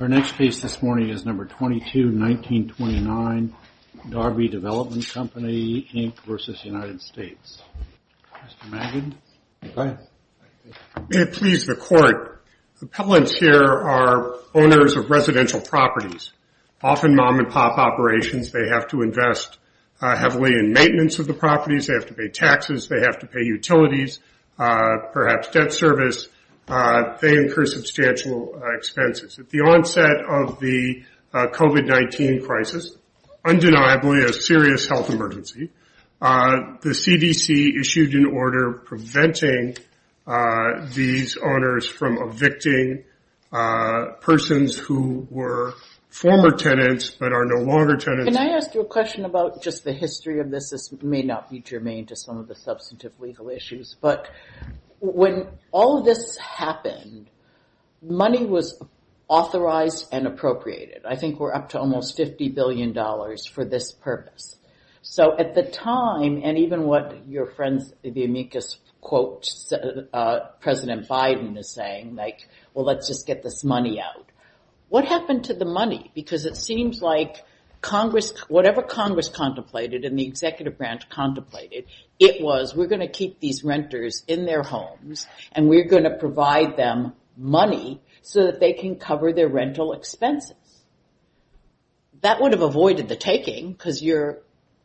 Our next case this morning is No. 22, 1929, Darby Development Company, Inc. v. United States. May it please the Court, appellants here are owners of residential properties, often mom and pop operations. They have to invest heavily in maintenance of the properties, they have to pay taxes, they have to pay utilities, perhaps debt service. They incur substantial expenses. At the onset of the COVID-19 crisis, undeniably a serious health emergency, the CDC issued an order preventing these owners from evicting persons who were former tenants but are no longer tenants. Can I ask you a question about just the history of this? This may not be germane to some of the substantive legal issues. But when all of this happened, money was authorized and appropriated. I think we're up to almost $50 billion for this purpose. So at the time, and even what your friends, the amicus quote, President Biden is saying, like, well, let's just get this money out. What happened to the money? Because it seems like Congress, whatever Congress contemplated and the executive branch contemplated, it was, we're going to keep these renters in their homes and we're going to provide them money so that they can cover their rental expenses. That would have avoided the taking because your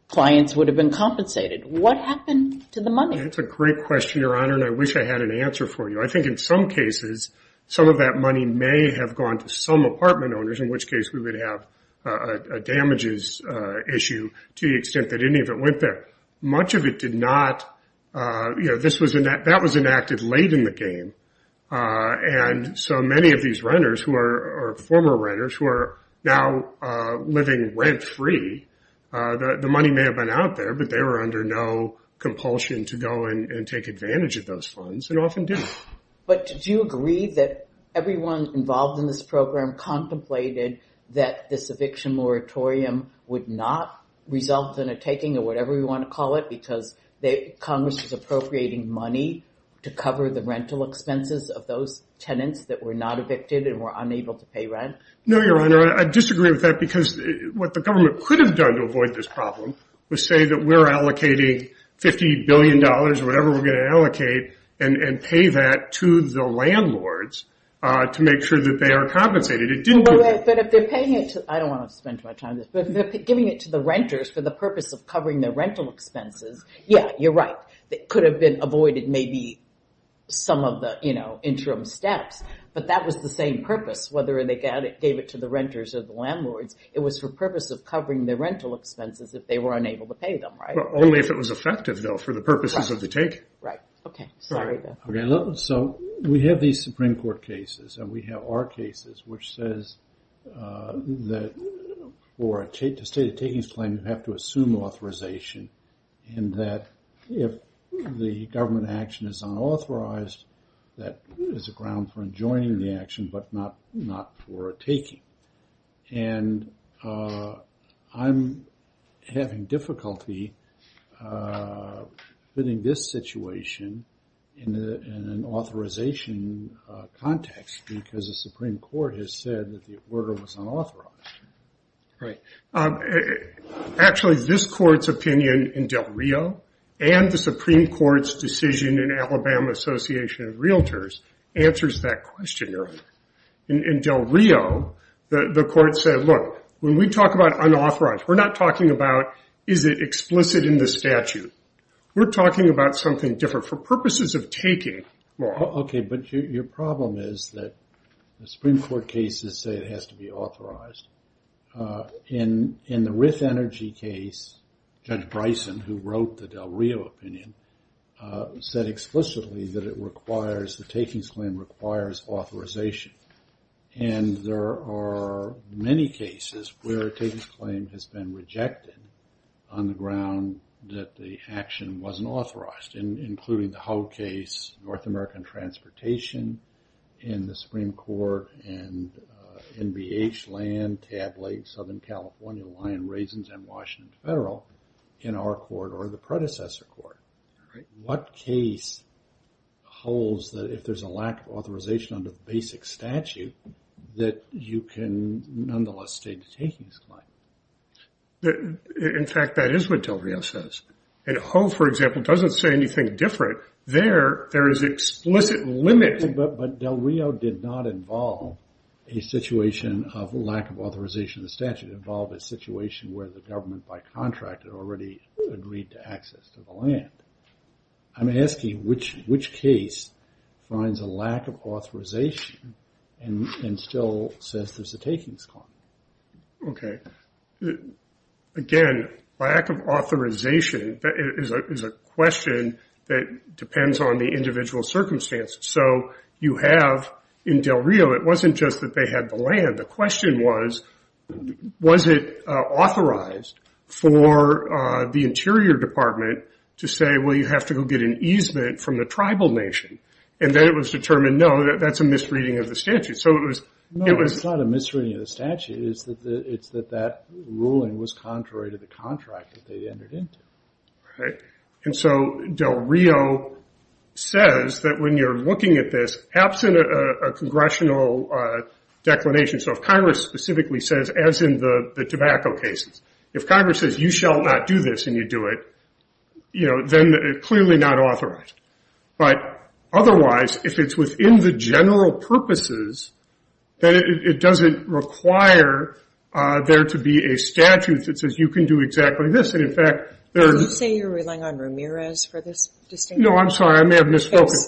clients would have been compensated. What happened to the money? That's a great question, Your Honor, and I wish I had an answer for you. I think in some cases, some of that money may have gone to some apartment owners, in which case we would have a damages issue to the extent that any of it went there. But much of it did not, you know, this was, that was enacted late in the game. And so many of these renters who are former renters who are now living rent free, the money may have been out there, but they were under no compulsion to go and take advantage of those funds and often didn't. But did you agree that everyone involved in this program contemplated that this eviction moratorium would not result in a taking or whatever you want to call it because Congress is appropriating money to cover the rental expenses of those tenants that were not evicted and were unable to pay rent? No, Your Honor, I disagree with that because what the government could have done to avoid this problem was say that we're allocating $50 billion or whatever we're going to allocate and pay that to the landlords to make sure that they are compensated. But if they're paying it to, I don't want to spend too much time on this, but giving it to the renters for the purpose of covering their rental expenses, yeah, you're right. It could have been avoided maybe some of the, you know, interim steps, but that was the same purpose, whether they gave it to the renters or the landlords. It was for purpose of covering their rental expenses if they were unable to pay them, right? Well, only if it was effective though for the purposes of the take. Right. Okay. Sorry. Go ahead. Okay. So, we have these Supreme Court cases and we have our cases, which says that for a state of takings claim, you have to assume authorization and that if the government action is unauthorized, that is a ground for enjoining the action, but not for a taking. And I'm having difficulty fitting this situation in an authorization context because the Supreme Court has said that the order was unauthorized. Right. Actually, this court's opinion in Del Rio and the Supreme Court's decision in Alabama Association of Realtors answers that question. In Del Rio, the court said, look, when we talk about unauthorized, we're not talking about is it explicit in the statute. We're talking about something different for purposes of taking. Okay. But your problem is that the Supreme Court cases say it has to be authorized. In the Rith Energy case, Judge Bryson, who wrote the Del Rio opinion, said explicitly that it requires, the takings claim requires authorization. And there are many cases where a takings claim has been rejected on the ground that the action wasn't authorized, including the Hogue case, North American Transportation in the Supreme Court, and NBH Land, Tab Lake, Southern California, Lion Raisins, and Washington Federal in our court or the predecessor court. What case holds that if there's a lack of authorization under the basic statute that you can nonetheless state the takings claim? In fact, that is what Del Rio says. And Hogue, for example, doesn't say anything different. There, there is explicit limit. But Del Rio did not involve a situation of lack of authorization in the statute. It involved a situation where the government, by contract, had already agreed to access to the land. I'm asking which case finds a lack of authorization and still says there's a takings claim. Okay. Again, lack of authorization is a question that depends on the individual circumstances. So you have, in Del Rio, it wasn't just that they had the land. The question was, was it authorized for the Interior Department to say, well, you have to go get an easement from the tribal nation. And then it was determined, no, that's a misreading of the statute. So it was... No, it's not a misreading of the statute. It's that that ruling was contrary to the contract that they entered into. And so Del Rio says that when you're looking at this, absent a congressional declination, so if Congress specifically says, as in the tobacco cases, if Congress says you shall not do this and you do it, you know, then clearly not authorized. But otherwise, if it's within the general purposes, then it doesn't require there to be a statute that says you can do exactly this. And in fact, there... Are you saying you're relying on Ramirez for this distinction? No, I'm sorry. I may have misfocused.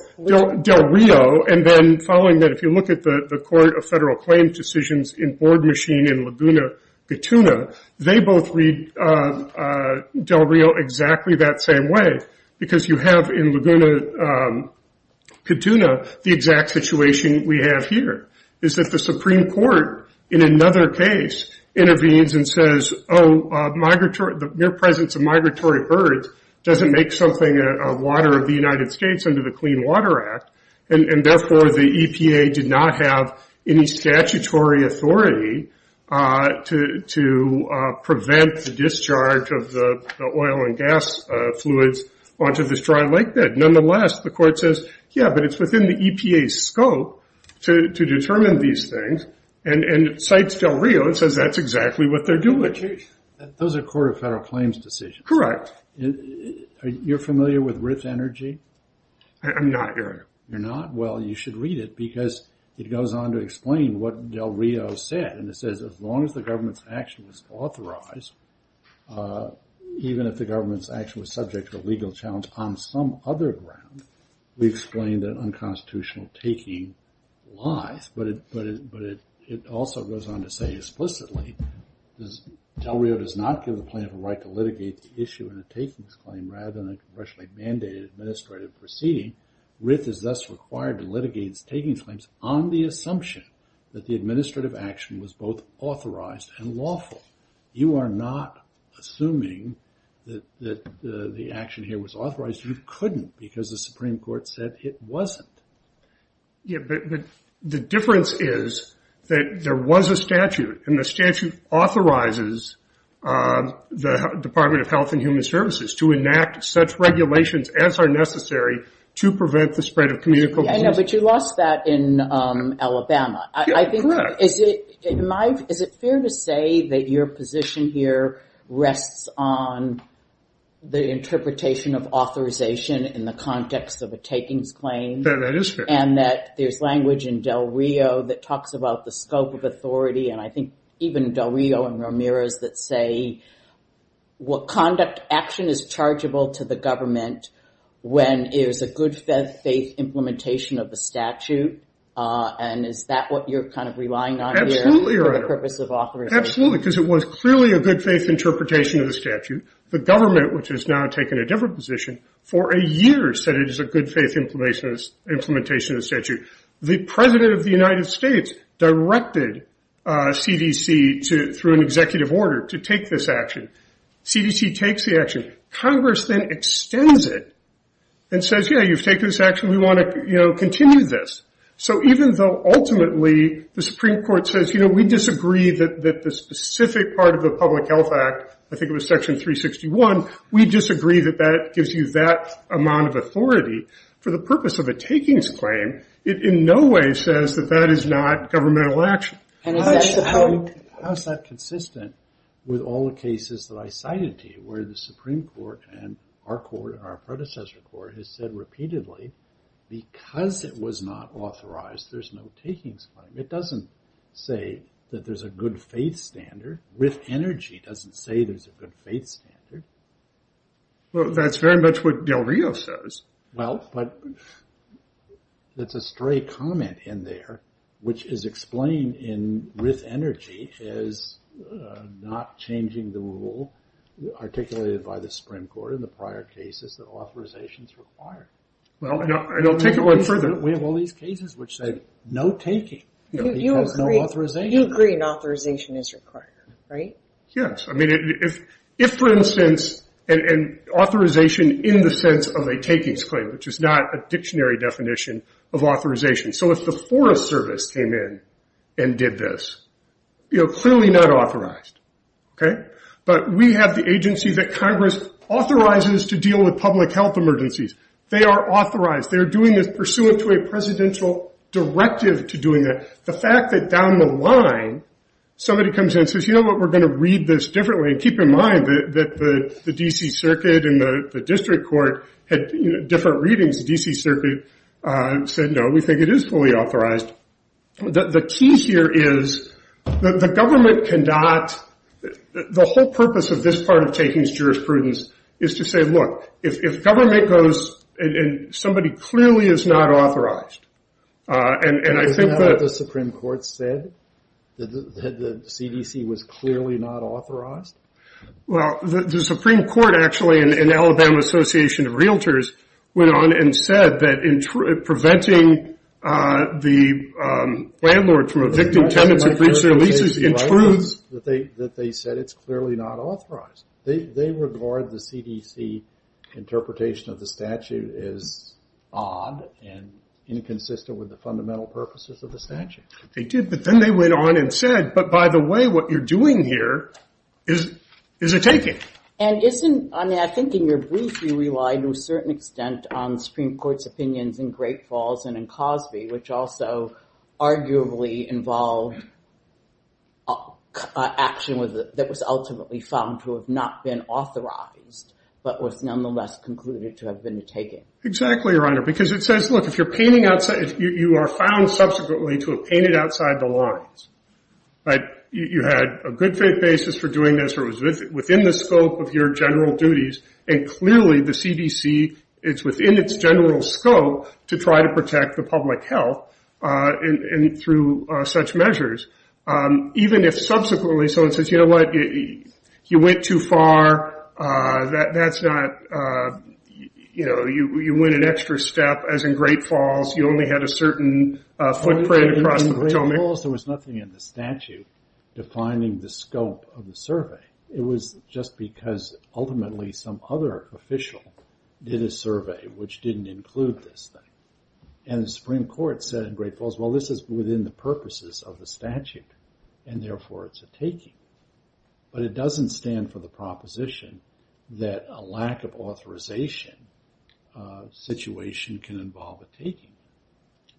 Del Rio. And then following that, if you look at the Court of Federal Claim Decisions in Board Machine in Laguna Catuna, they both read Del Rio exactly that same way. Because you have in Laguna Catuna the exact situation we have here, is that the Supreme Court, in another case, intervenes and says, oh, migratory... The mere presence of migratory birds doesn't make something a water of the United States under the Clean Water Act, and therefore the EPA did not have any statutory authority to prevent the discharge of the oil and gas fluids onto this dry lake bed. Nonetheless, the Court says, yeah, but it's within the EPA's scope to determine these things, and cites Del Rio and says that's exactly what they're doing. Those are Court of Federal Claims Decisions. Correct. You're familiar with RIF's energy? I'm not. You're not? Well, you should read it, because it goes on to explain what Del Rio said, and it says as long as the government's action was authorized, even if the government's action was subject to a legal challenge on some other ground, we explain that unconstitutional taking lies. But it also goes on to say explicitly, Del Rio does not give the plaintiff a right to take this claim rather than a congressionally mandated administrative proceeding. RIF is thus required to litigate its taking claims on the assumption that the administrative action was both authorized and lawful. You are not assuming that the action here was authorized. You couldn't, because the Supreme Court said it wasn't. The difference is that there was a statute, and the statute authorizes the Department of Health and Human Services to enact such regulations as are necessary to prevent the spread of communicable diseases. Yeah, I know, but you lost that in Alabama. Correct. I think, is it fair to say that your position here rests on the interpretation of authorization in the context of a takings claim? That is fair. And that there's language in Del Rio that talks about the scope of authority, and I say, what conduct action is chargeable to the government when it is a good faith implementation of the statute? And is that what you're kind of relying on here for the purpose of authorization? Absolutely, because it was clearly a good faith interpretation of the statute. The government, which has now taken a different position, for a year said it is a good faith implementation of the statute. The President of the United States directed CDC, through an executive order, to take this action. CDC takes the action. Congress then extends it and says, yeah, you've taken this action. We want to continue this. So even though ultimately the Supreme Court says, you know, we disagree that the specific part of the Public Health Act, I think it was Section 361, we disagree that that gives you that amount of authority for the purpose of a takings claim, it in no way says that that is not governmental action. How is that consistent with all the cases that I cited to you, where the Supreme Court and our predecessor court has said repeatedly, because it was not authorized, there's no takings claim? It doesn't say that there's a good faith standard. With energy, it doesn't say there's a good faith standard. Well, that's very much what Del Rio says. Well, but that's a stray comment in there, which is explained in with energy is not changing the rule articulated by the Supreme Court in the prior cases that authorizations are required. Well, I don't take it one further. We have all these cases which say, no taking, because no authorization. You agree an authorization is required, right? Yes. If, for instance, an authorization in the sense of a takings claim, which is not a dictionary definition of authorization, so if the Forest Service came in and did this, clearly not authorized. Okay? But we have the agency that Congress authorizes to deal with public health emergencies. They are authorized. They are doing this pursuant to a presidential directive to doing that. The fact that down the line, somebody comes in and says, you know what, we're going to read this differently. Keep in mind that the D.C. Circuit and the District Court had different readings. The D.C. Circuit said, no, we think it is fully authorized. The key here is the government cannot, the whole purpose of this part of takings jurisprudence is to say, look, if government goes and somebody clearly is not authorized, and I think that the Supreme Court said that the CDC was clearly not authorized. Well, the Supreme Court, actually, and Alabama Association of Realtors went on and said that preventing the landlord from evicting tenants who breach their leases intrudes. That they said it's clearly not authorized. They regard the CDC interpretation of the statute as odd and inconsistent with the fundamental purposes of the statute. They did, but then they went on and said, but by the way, what you're doing here is a taking. And isn't, I mean, I think in your brief, you relied to a certain extent on Supreme Court's opinions in Great Falls and in Cosby, which also arguably involved action that was ultimately found to have not been authorized, but was nonetheless concluded to have been a taking. Exactly, Your Honor, because it says, look, if you're painting outside, you are found subsequently to have painted outside the lines. You had a good faith basis for doing this or it was within the scope of your general duties, and clearly the CDC is within its general scope to try to protect the public health through such measures. Even if subsequently someone says, you know what, you went too far. That's not, you know, you went an extra step, as in Great Falls, you only had a certain footprint across the Potomac. In Great Falls, there was nothing in the statute defining the scope of the survey. It was just because ultimately some other official did a survey, which didn't include this thing. And the Supreme Court said in Great Falls, well, this is within the purposes of the statute, and therefore it's a taking. But it doesn't stand for the proposition that a lack of authorization situation can involve a taking,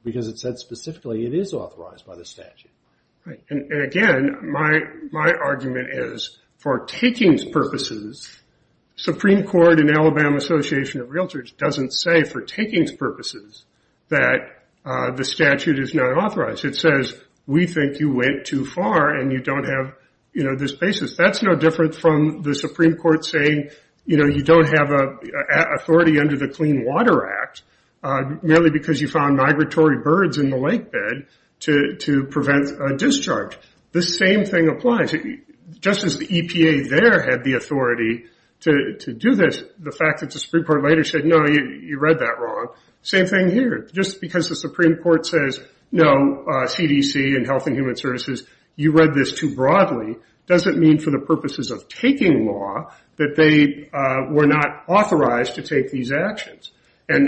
because it said specifically it is authorized by the statute. Right, and again, my argument is for takings purposes, Supreme Court and Alabama Association of Realtors doesn't say for takings purposes that the statute is not authorized. It says, we think you went too far, and you don't have this basis. That's no different from the Supreme Court saying, you know, you don't have authority under the Clean Water Act, merely because you found migratory birds in the lake bed to prevent a discharge. The same thing applies. Just as the EPA there had the authority to do this, the fact that the Supreme Court later said, no, you read that wrong. Same thing here. Just because the Supreme Court says, no, CDC and Health and Human Services, you read this too broadly, doesn't mean for the purposes of taking law that they were not authorized to take these actions. I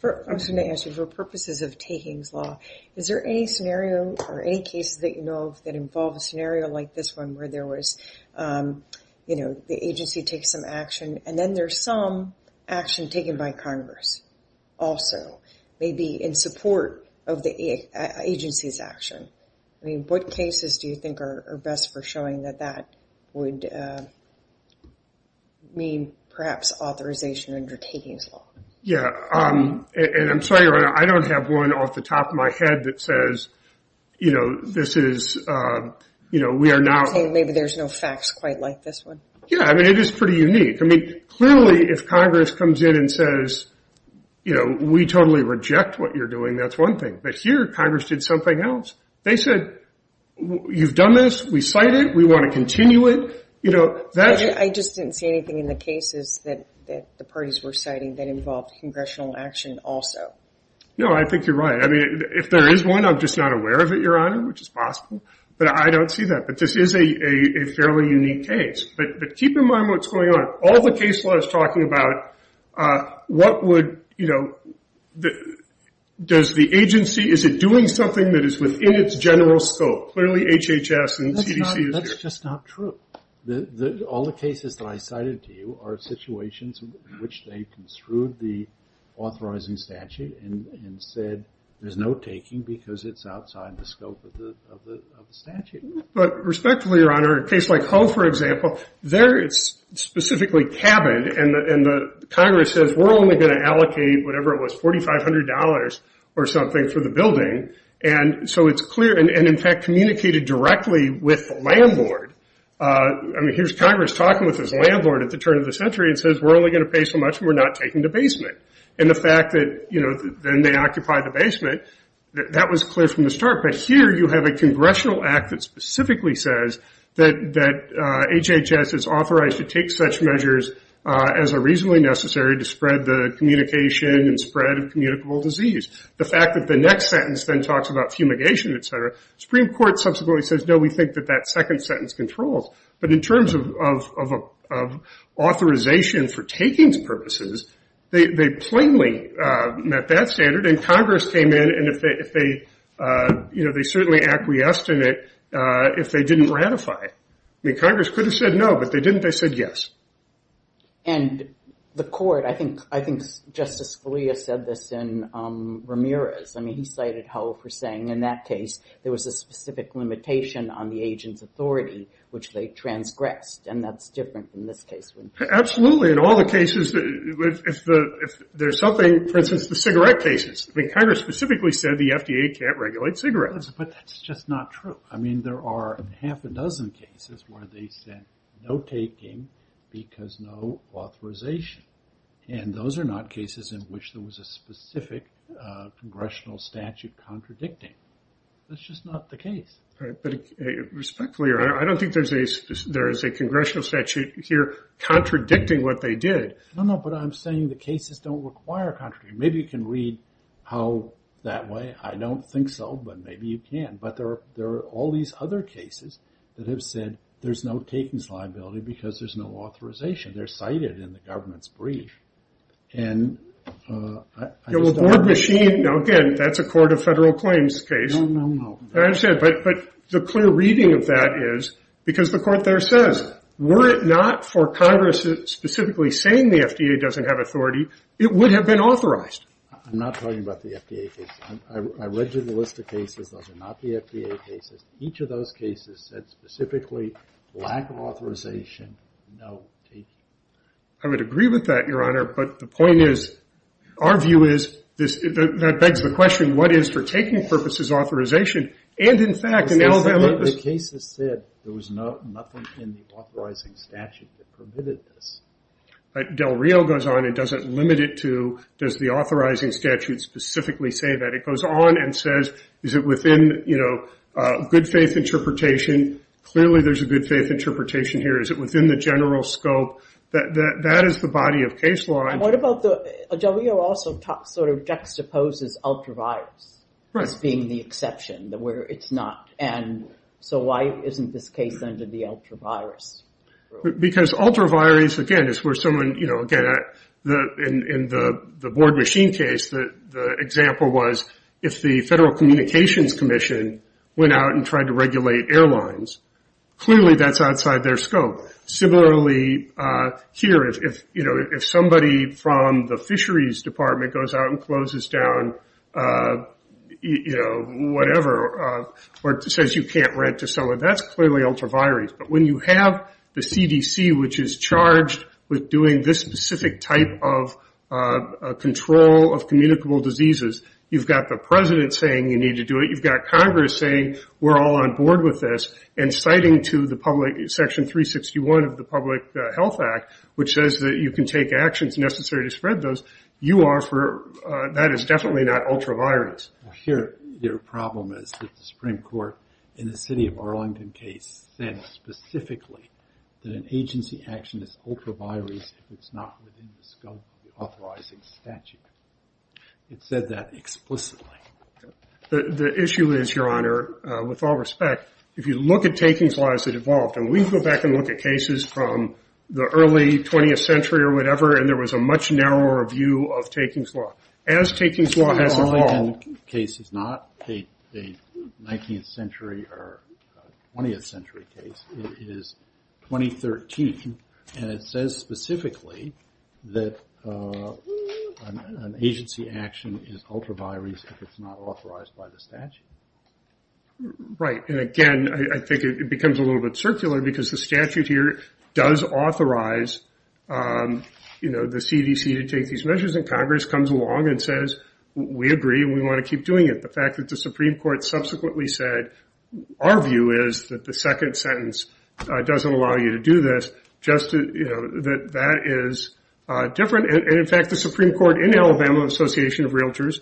was going to ask you, for purposes of takings law, is there any scenario or any cases that you know of that involve a scenario like this one where there was, you know, the agency takes some action, and then there's some action taken by Congress also, maybe in support of the agency's action? I mean, what cases do you think are best for showing that that would mean, perhaps, authorization under takings law? Yeah, and I'm sorry, I don't have one off the top of my head that says, you know, this is, you know, we are now. Maybe there's no facts quite like this one. Yeah, I mean, it is pretty unique. I mean, clearly if Congress comes in and says, you know, we totally reject what you're doing, that's one thing. But here Congress did something else. They said, you've done this, we cite it, we want to continue it, you know. I just didn't see anything in the cases that the parties were citing that involved congressional action also. No, I think you're right. I mean, if there is one, I'm just not aware of it, Your Honor, which is possible. But I don't see that. But this is a fairly unique case. But keep in mind what's going on. All the case law is talking about what would, you know, does the agency, is it doing something that is within its general scope? Clearly HHS and CDC is here. That's just not true. All the cases that I cited to you are situations in which they construed the authorizing statute and said there's no taking because it's outside the scope of the statute. But respectfully, Your Honor, a case like Hull, for example, there it's specifically cabined and Congress says we're only going to allocate whatever it was, $4,500 or something for the building. And so it's clear, and in fact communicated directly with the landlord. I mean, here's Congress talking with his landlord at the turn of the century and says we're only going to pay so much and we're not taking the basement. And the fact that, you know, then they occupy the basement, that was clear from the start. But here you have a congressional act that specifically says that HHS is authorized to take such measures as are reasonably necessary to spread the communication and spread of communicable disease. The fact that the next sentence then talks about fumigation, et cetera, the Supreme Court subsequently says, no, we think that that second sentence controls. But in terms of authorization for takings purposes, they plainly met that standard. And Congress came in and if they, you know, they certainly acquiesced in it if they didn't ratify it. I mean, Congress could have said no, but they didn't, they said yes. And the court, I think Justice Scalia said this in Ramirez. I mean, he cited Hull for saying in that case there was a specific limitation on the agent's authority, which they transgressed, and that's different in this case. Absolutely. In all the cases, if there's something, for instance, the cigarette cases, I mean, Congress specifically said the FDA can't regulate cigarettes. But that's just not true. I mean, there are half a dozen cases where they said no taking because no authorization. And those are not cases in which there was a specific congressional statute contradicting. That's just not the case. Respectfully, I don't think there's a congressional statute here contradicting what they did. No, no, but I'm saying the cases don't require contradicting. Maybe you can read how that way. I don't think so, but maybe you can. But there are all these other cases that have said there's no takings liability because there's no authorization. They're cited in the government's brief. And I just don't understand. Now, again, that's a court of federal claims case. No, no, no. I understand. But the clear reading of that is because the court there says were it not for Congress specifically saying the FDA doesn't have authority, it would have been authorized. I'm not talking about the FDA case. I read you the list of cases. Those are not the FDA cases. Each of those cases said specifically lack of authorization, no taking. I would agree with that, Your Honor. But the point is, our view is, that begs the question, what is for taking purposes authorization? And, in fact, in Alabama. The cases said there was nothing in the authorizing statute that permitted this. Del Rio goes on and doesn't limit it to does the authorizing statute specifically say that. It goes on and says is it within, you know, good faith interpretation. Clearly there's a good faith interpretation here. Is it within the general scope? That is the body of case law. Del Rio also sort of juxtaposes ultraviolence as being the exception where it's not. And so why isn't this case under the ultraviolence rule? Because ultraviolence, again, is where someone, you know, again, in the board machine case, the example was if the Federal Communications Commission went out and tried to regulate airlines, clearly that's outside their scope. Similarly, here, if somebody from the fisheries department goes out and closes down, you know, whatever, or says you can't rent to someone, that's clearly ultraviolence. But when you have the CDC, which is charged with doing this specific type of control of communicable diseases, you've got the President saying you need to do it, you've got Congress saying we're all on board with this, and citing to the public section 361 of the Public Health Act, which says that you can take actions necessary to spread those, you are for, that is definitely not ultraviolence. Here, your problem is that the Supreme Court, in the city of Arlington case, said specifically that an agency action is ultraviolence if it's not within the scope of the authorizing statute. It said that explicitly. The issue is, Your Honor, with all respect, if you look at takings laws that evolved, and we can go back and look at cases from the early 20th century or whatever, and there was a much narrower view of takings law. As takings law has evolved. The Arlington case is not a 19th century or 20th century case. It is 2013, and it says specifically that an agency action is ultraviolence if it's not authorized by the statute. Right, and again, I think it becomes a little bit circular, because the statute here does authorize the CDC to take these measures, and Congress comes along and says we agree and we want to keep doing it. The fact that the Supreme Court subsequently said our view is that the second sentence doesn't allow you to do this, just that that is different. In fact, the Supreme Court in Alabama Association of Realtors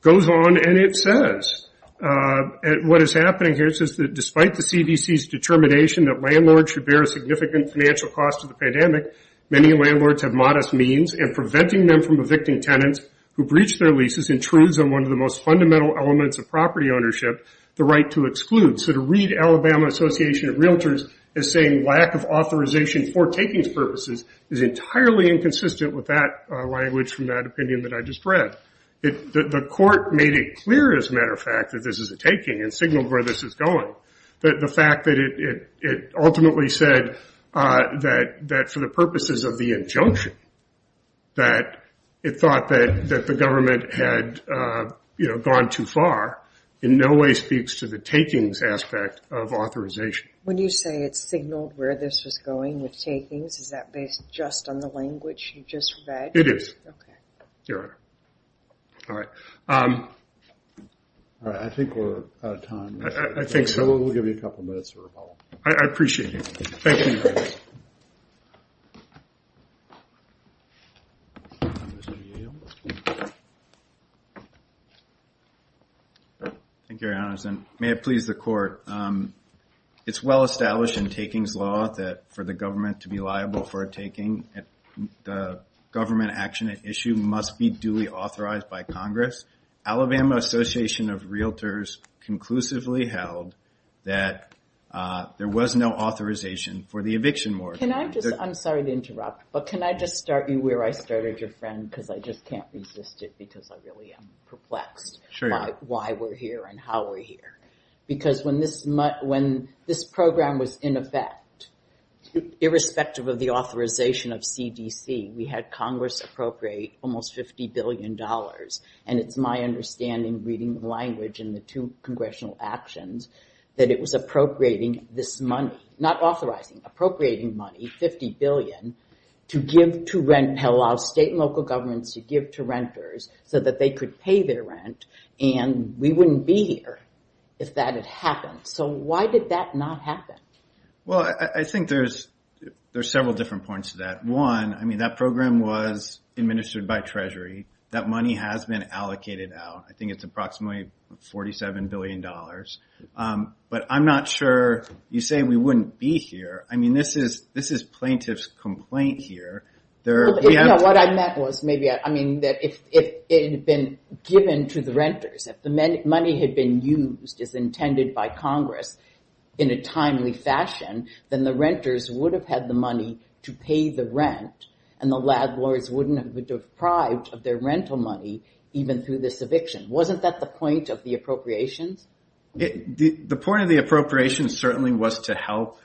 goes on and it says, what is happening here is that despite the CDC's determination that landlords should bear a significant financial cost of the pandemic, many landlords have modest means, and preventing them from evicting tenants who breach their leases intrudes on one of the most fundamental elements of property ownership, the right to exclude. So to read Alabama Association of Realtors as saying lack of authorization for takings purposes is entirely inconsistent with that language from that opinion that I just read. The court made it clear, as a matter of fact, that this is a taking and signaled where this is going. But the fact that it ultimately said that for the purposes of the injunction, that it thought that the government had gone too far, in no way speaks to the takings aspect of authorization. When you say it signaled where this was going with takings, is that based just on the language you just read? It is. Okay. Your Honor. All right. All right, I think we're out of time. I think so. We'll give you a couple minutes for rebuttal. I appreciate it. Thank you, Your Honor. Thank you, Your Honor. And may it please the court, it's well established in takings law that for the government to be liable for a taking, the government action at issue must be duly authorized by Congress. Alabama Association of Realtors conclusively held that there was no authorization for the eviction warrant. Can I just, I'm sorry to interrupt, but can I just start you where I started your friend? Because I just can't resist it because I really am perplexed. Sure. Why we're here and how we're here. Because when this program was in effect, irrespective of the authorization of CDC, we had Congress appropriate almost $50 billion. And it's my understanding, reading the language in the two congressional actions, that it was appropriating this money, not authorizing, appropriating money, 50 billion, to give to rent, and allow state and local governments to give to renters so that they could pay their rent. And we wouldn't be here if that had happened. So why did that not happen? Well, I think there's several different points to that. One, I mean, that program was administered by Treasury. That money has been allocated out. I think it's approximately $47 billion. But I'm not sure you say we wouldn't be here. I mean, this is plaintiff's complaint here. What I meant was maybe, I mean, that if it had been given to the renters, if the money had been used as intended by Congress in a timely fashion, then the renters would have had the money to pay the rent, and the landlords wouldn't have been deprived of their rental money even through this eviction. Wasn't that the point of the appropriations? The point of the appropriations certainly was to help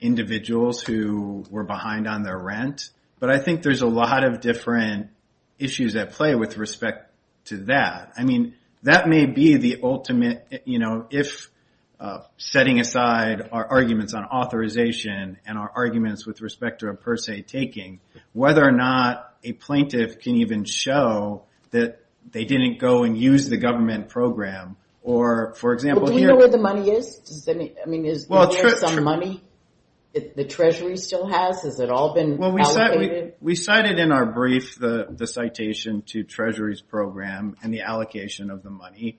individuals who were behind on their rent. But I think there's a lot of different issues at play with respect to that. I mean, that may be the ultimate, you know, if setting aside our arguments on authorization and our arguments with respect to a per se taking, whether or not a plaintiff can even show that they didn't go and use the government program. Do you know where the money is? I mean, is there some money the Treasury still has? Has it all been allocated? We cited in our brief the citation to Treasury's program and the allocation of the money.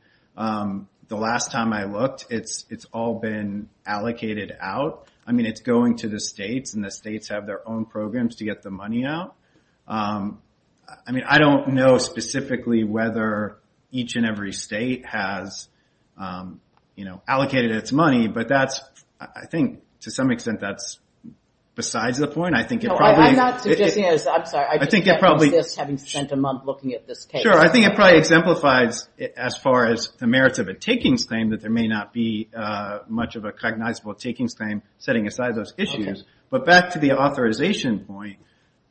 The last time I looked, it's all been allocated out. I mean, it's going to the states, and the states have their own programs to get the money out. I mean, I don't know specifically whether each and every state has, you know, allocated its money, but I think to some extent that's besides the point. I'm sorry, I just can't resist having spent a month looking at this case. Sure, I think it probably exemplifies, as far as the merits of a takings claim, that there may not be much of a cognizable takings claim setting aside those issues. But back to the authorization point,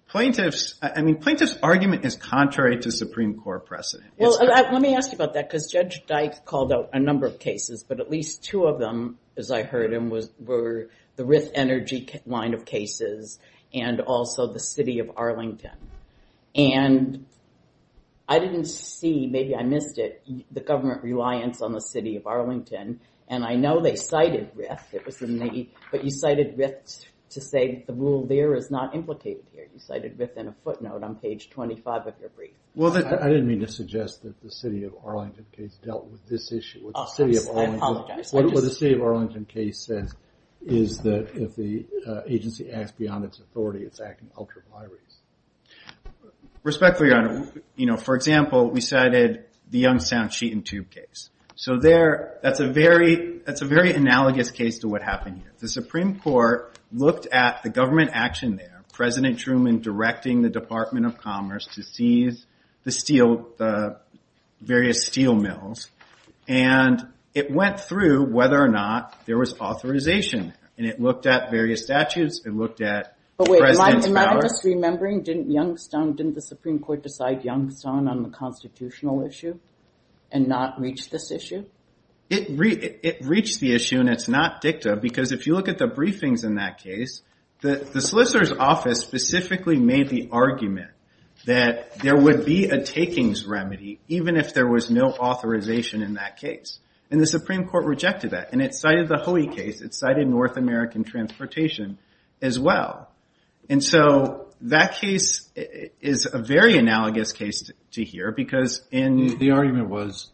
plaintiffs' argument is contrary to Supreme Court precedent. Well, let me ask you about that, because Judge Dyke called out a number of cases, but at least two of them, as I heard them, were the Rith Energy line of cases and also the city of Arlington. And I didn't see, maybe I missed it, the government reliance on the city of Arlington, and I know they cited Rith, but you cited Rith to say the rule there is not implicated here. You cited Rith in a footnote on page 25 of your brief. Well, I didn't mean to suggest that the city of Arlington case dealt with this issue. I apologize. What the city of Arlington case says is that if the agency acts beyond its authority, it's acting ultra-violence. Respectfully, Your Honor, for example, we cited the Youngstown Sheet and Tube case. So that's a very analogous case to what happened here. The Supreme Court looked at the government action there, President Truman directing the Department of Commerce to seize the various steel mills, and it went through whether or not there was authorization there, and it looked at various statutes, it looked at President's power. But wait, am I just remembering, didn't Youngstown, didn't the Supreme Court decide Youngstown on the constitutional issue and not reach this issue? It reached the issue, and it's not dicta, because if you look at the briefings in that case, the solicitor's office specifically made the argument that there would be a takings remedy even if there was no authorization in that case. And the Supreme Court rejected that, and it cited the Hoey case, it cited North American transportation as well. And so that case is a very analogous case to here because in— The argument was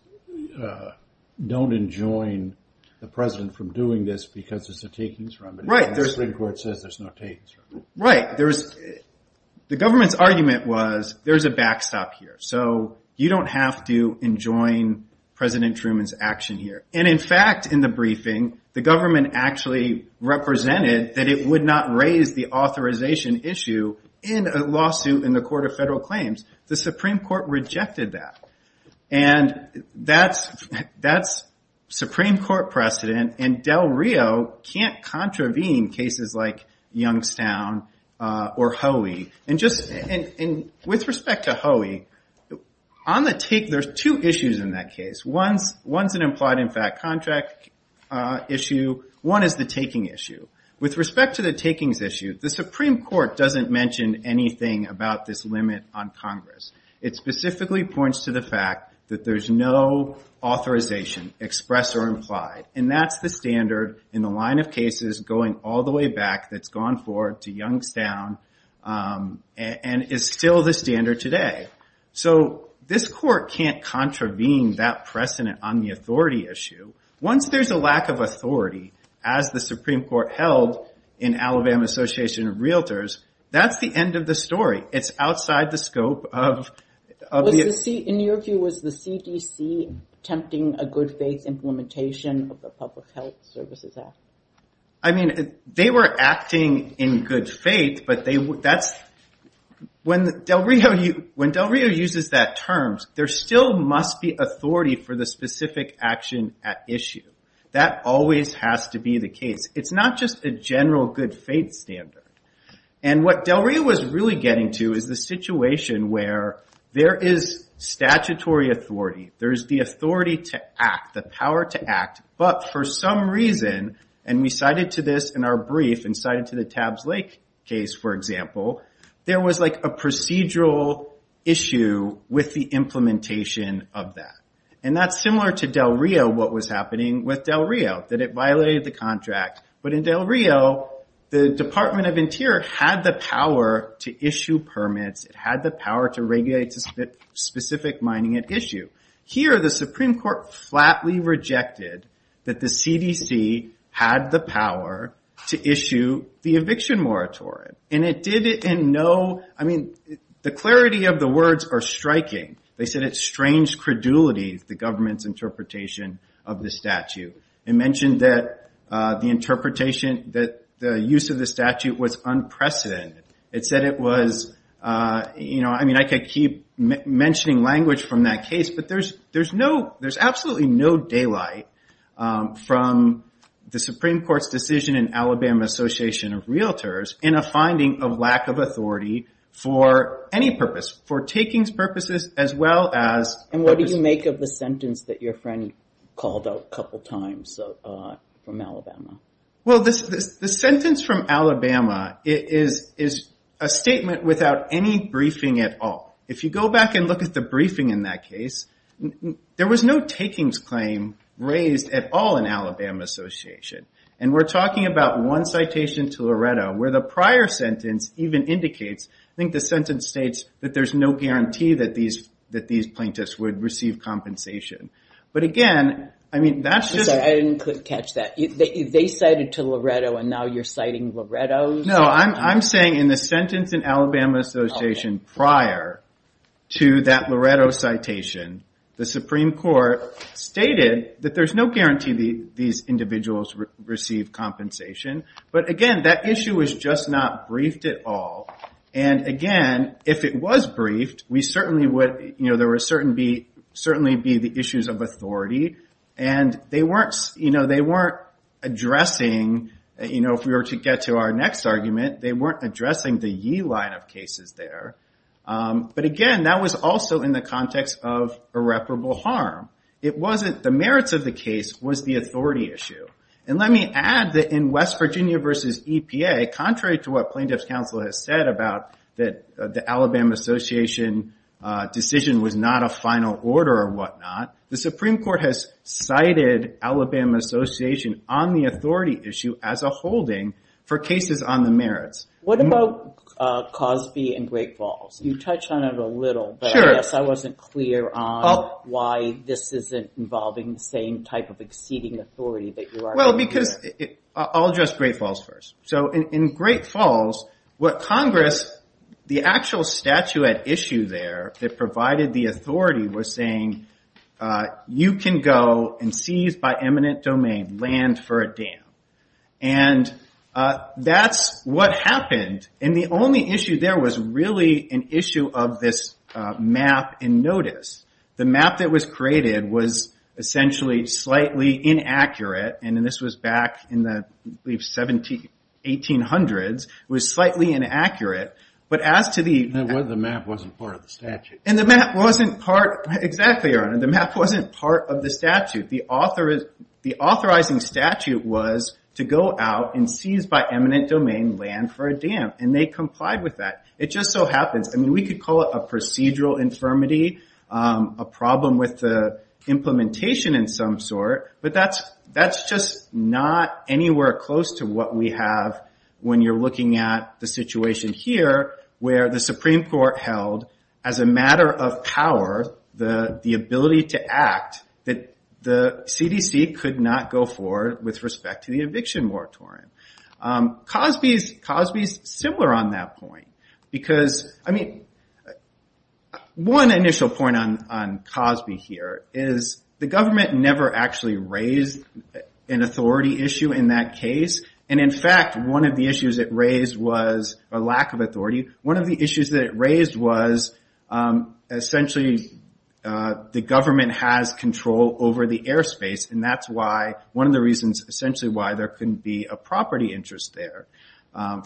don't enjoin the President from doing this because there's a takings remedy. Right. And the Supreme Court says there's no takings remedy. Right. The government's argument was there's a backstop here. So you don't have to enjoin President Truman's action here. And in fact, in the briefing, the government actually represented that it would not raise the authorization issue in a lawsuit in the Court of Federal Claims. The Supreme Court rejected that. And that's Supreme Court precedent, and Del Rio can't contravene cases like Youngstown or Hoey. And with respect to Hoey, on the take, there's two issues in that case. One's an implied in fact contract issue. One is the taking issue. With respect to the takings issue, the Supreme Court doesn't mention anything about this limit on Congress. It specifically points to the fact that there's no authorization, express or implied. And that's the standard in the line of cases going all the way back that's gone forward to Youngstown and is still the standard today. So this court can't contravene that precedent on the authority issue. Once there's a lack of authority, as the Supreme Court held in Alabama Association of Realtors, that's the end of the story. It's outside the scope of the… In your view, was the CDC attempting a good faith implementation of the Public Health Services Act? I mean, they were acting in good faith, but that's… When Del Rio uses that term, there still must be authority for the specific action at issue. That always has to be the case. It's not just a general good faith standard. And what Del Rio was really getting to is the situation where there is statutory authority. There's the authority to act, the power to act, but for some reason, and we cited to this in our brief and cited to the Tabs Lake case, for example, there was like a procedural issue with the implementation of that. And that's similar to Del Rio, what was happening with Del Rio, that it violated the contract. But in Del Rio, the Department of Interior had the power to issue permits. It had the power to regulate specific mining at issue. Here, the Supreme Court flatly rejected that the CDC had the power to issue the eviction moratorium. And it did it in no… I mean, the clarity of the words are striking. They said it's strange credulity, the government's interpretation of the statute. It mentioned that the interpretation, that the use of the statute was unprecedented. It said it was, you know, I mean, I could keep mentioning language from that case, but there's absolutely no daylight from the Supreme Court's decision in Alabama Association of Realtors in a finding of lack of authority for any purpose, for takings purposes as well as… And what do you make of the sentence that your friend called out a couple times from Alabama? Well, the sentence from Alabama is a statement without any briefing at all. If you go back and look at the briefing in that case, there was no takings claim raised at all in Alabama Association. And we're talking about one citation to Loretto where the prior sentence even indicates, I think the sentence states that there's no guarantee that these plaintiffs would receive compensation. But again, I mean, that's just… I'm sorry, I couldn't catch that. They cited to Loretto and now you're citing Loretto? No, I'm saying in the sentence in Alabama Association prior to that Loretto citation, the Supreme Court stated that there's no guarantee these individuals receive compensation. But again, that issue is just not briefed at all. And again, if it was briefed, there would certainly be the issues of authority. And they weren't addressing, if we were to get to our next argument, they weren't addressing the yee line of cases there. But again, that was also in the context of irreparable harm. The merits of the case was the authority issue. And let me add that in West Virginia versus EPA, contrary to what plaintiff's counsel has said about the Alabama Association decision was not a final order or whatnot, the Supreme Court has cited Alabama Association on the authority issue as a holding for cases on the merits. What about Cosby and Great Falls? You touched on it a little, but I guess I wasn't clear on why this isn't involving the same type of exceeding authority that you are. Well, because I'll address Great Falls first. So in Great Falls, what Congress, the actual statuette issue there that provided the authority was saying, you can go and seize by eminent domain land for a dam. And that's what happened. And the only issue there was really an issue of this map in notice. The map that was created was essentially slightly inaccurate. And this was back in the 1800s. It was slightly inaccurate. The map wasn't part of the statute. Exactly, Your Honor. The map wasn't part of the statute. The authorizing statute was to go out and seize by eminent domain land for a dam. And they complied with that. It just so happens. I mean, we could call it a procedural infirmity, a problem with the implementation in some sort. But that's just not anywhere close to what we have when you're looking at the situation here, where the Supreme Court held as a matter of power the ability to act that the CDC could not go for with respect to the eviction moratorium. Cosby is similar on that point. Because, I mean, one initial point on Cosby here is the government never actually raised an authority issue in that case. And, in fact, one of the issues it raised was a lack of authority. One of the issues that it raised was essentially the government has control over the airspace. And that's why one of the reasons essentially why there couldn't be a property interest there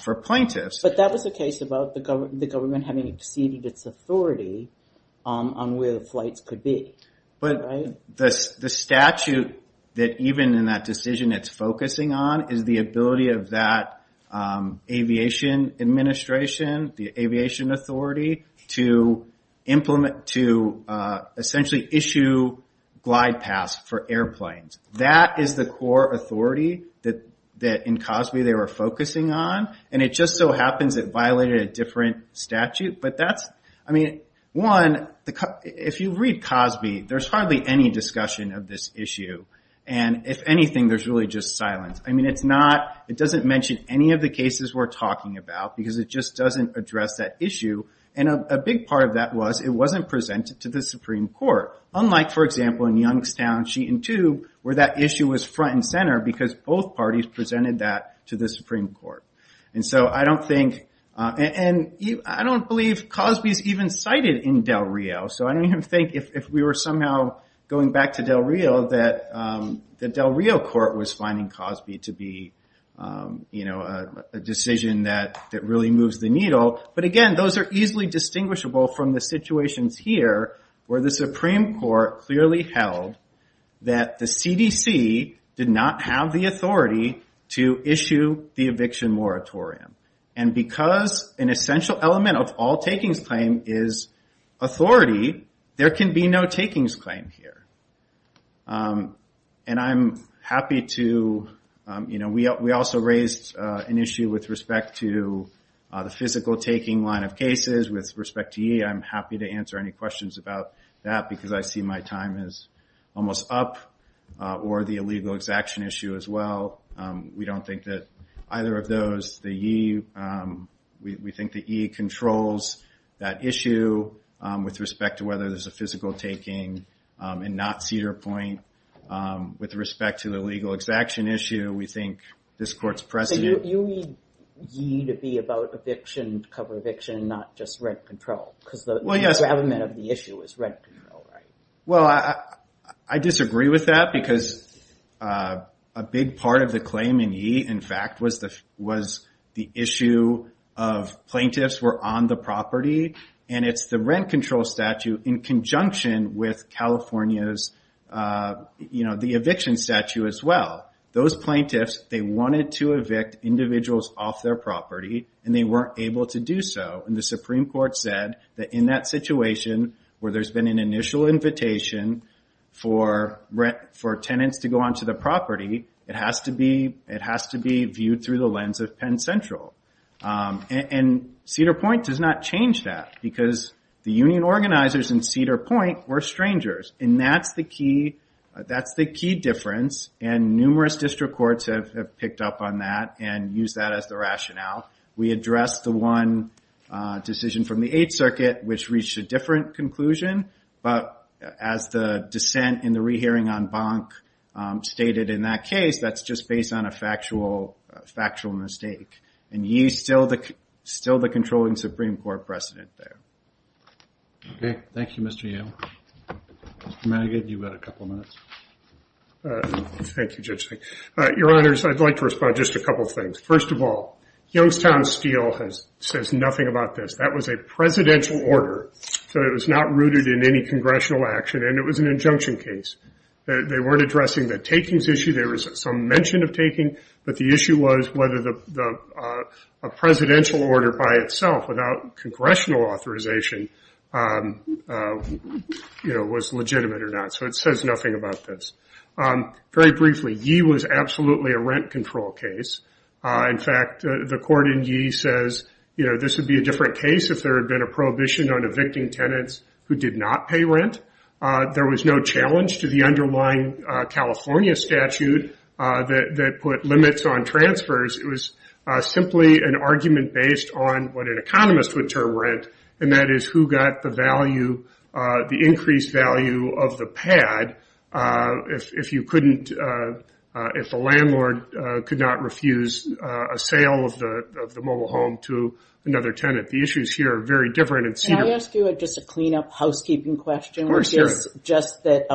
for plaintiffs. But that was the case about the government having exceeded its authority on where the flights could be. But the statute that even in that decision it's focusing on is the ability of that aviation administration, the aviation authority, to implement, to essentially issue glide paths for airplanes. That is the core authority that in Cosby they were focusing on. And it just so happens it violated a different statute. But that's, I mean, one, if you read Cosby, there's hardly any discussion of this issue. And, if anything, there's really just silence. I mean, it's not, it doesn't mention any of the cases we're talking about because it just doesn't address that issue. And a big part of that was it wasn't presented to the Supreme Court. Unlike, for example, in Youngstown, Sheet and Tube, where that issue was front and center because both parties presented that to the Supreme Court. And so I don't think, and I don't believe Cosby's even cited in Del Rio. So I don't even think if we were somehow going back to Del Rio that the Del Rio court was finding Cosby to be, you know, a decision that really moves the needle. But again, those are easily distinguishable from the situations here where the Supreme Court clearly held that the CDC did not have the authority to issue the eviction moratorium. And because an essential element of all takings claim is authority, there can be no takings claim here. And I'm happy to, you know, we also raised an issue with respect to the physical taking line of cases with respect to E. I'm happy to answer any questions about that because I see my time is almost up. Or the illegal exaction issue as well. We don't think that either of those, the E, we think the E controls that issue with respect to whether there's a physical taking. And not Cedar Point. With respect to the legal exaction issue, we think this court's precedent. So you need E to be about eviction, cover eviction, and not just rent control. Because the other element of the issue is rent control, right? Well, I disagree with that because a big part of the claim in E, in fact, was the issue of plaintiffs were on the property. And it's the rent control statute in conjunction with California's, you know, the eviction statute as well. Those plaintiffs, they wanted to evict individuals off their property. And they weren't able to do so. And the Supreme Court said that in that situation where there's been an initial invitation for tenants to go onto the property, it has to be viewed through the lens of Penn Central. And Cedar Point does not change that because the union organizers in Cedar Point were strangers. And that's the key difference. And numerous district courts have picked up on that and used that as the rationale. We addressed the one decision from the Eighth Circuit which reached a different conclusion. But as the dissent in the rehearing on Bonk stated in that case, that's just based on a factual mistake. And E is still the controlling Supreme Court precedent there. Okay. Thank you, Mr. Yale. Mr. Manigat, you've got a couple minutes. Thank you, Judge Fink. Your Honors, I'd like to respond to just a couple of things. First of all, Youngstown Steel says nothing about this. That was a presidential order. So it was not rooted in any congressional action. And it was an injunction case. They weren't addressing the takings issue. There was some mention of taking. But the issue was whether a presidential order by itself without congressional authorization was legitimate or not. So it says nothing about this. Very briefly, E was absolutely a rent control case. In fact, the court in E says this would be a different case if there had been a prohibition on evicting tenants who did not pay rent. There was no challenge to the underlying California statute that put limits on transfers. It was simply an argument based on what an economist would term rent, and that is who got the value, the increased value of the pad, if you couldn't, if the landlord could not refuse a sale of the mobile home to another tenant. The issues here are very different. Can I ask you just a clean-up housekeeping question? Of course. Just that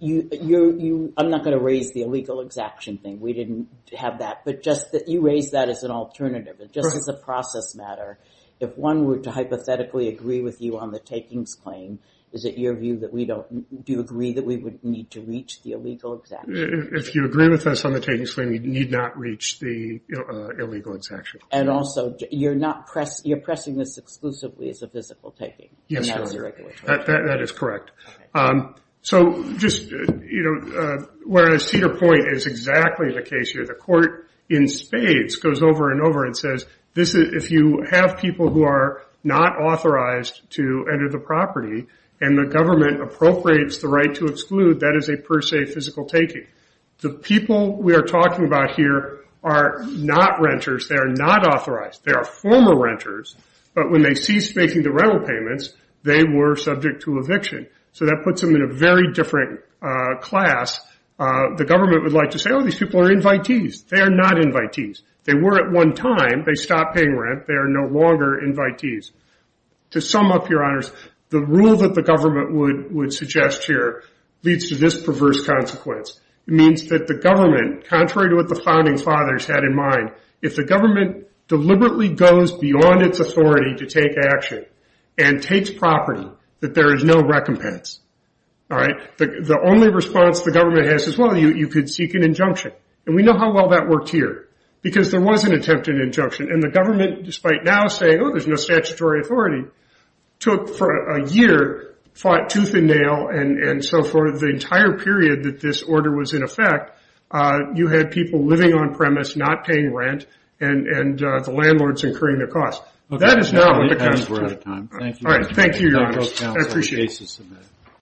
you – I'm not going to raise the illegal exaction thing. We didn't have that. But just that you raised that as an alternative. Just as a process matter, if one were to hypothetically agree with you on the takings claim, is it your view that we don't – do you agree that we would need to reach the illegal exaction? If you agree with us on the takings claim, we need not reach the illegal exaction. And also, you're not – you're pressing this exclusively as a physical taking. Yes, sir. That is correct. So just, you know, whereas Cedar Point is exactly the case here, the court in spades goes over and over and says, if you have people who are not authorized to enter the property and the government appropriates the right to exclude, that is a per se physical taking. The people we are talking about here are not renters. They are not authorized. They are former renters. But when they ceased making the rental payments, they were subject to eviction. So that puts them in a very different class. The government would like to say, oh, these people are invitees. They are not invitees. They were at one time. They stopped paying rent. They are no longer invitees. To sum up, Your Honors, the rule that the government would suggest here leads to this perverse consequence. It means that the government, contrary to what the founding fathers had in mind, if the government deliberately goes beyond its authority to take action and takes property, that there is no recompense. All right? The only response the government has is, well, you could seek an injunction. And we know how well that worked here because there was an attempt at an injunction. And the government, despite now saying, oh, there's no statutory authority, took for a year, fought tooth and nail, and so for the entire period that this order was in effect, you had people living on premise, not paying rent, and the landlords incurring the cost. That is not what the government should have. We're out of time. Thank you. Thank you, Your Honors. I appreciate it. I appreciate the basis of that.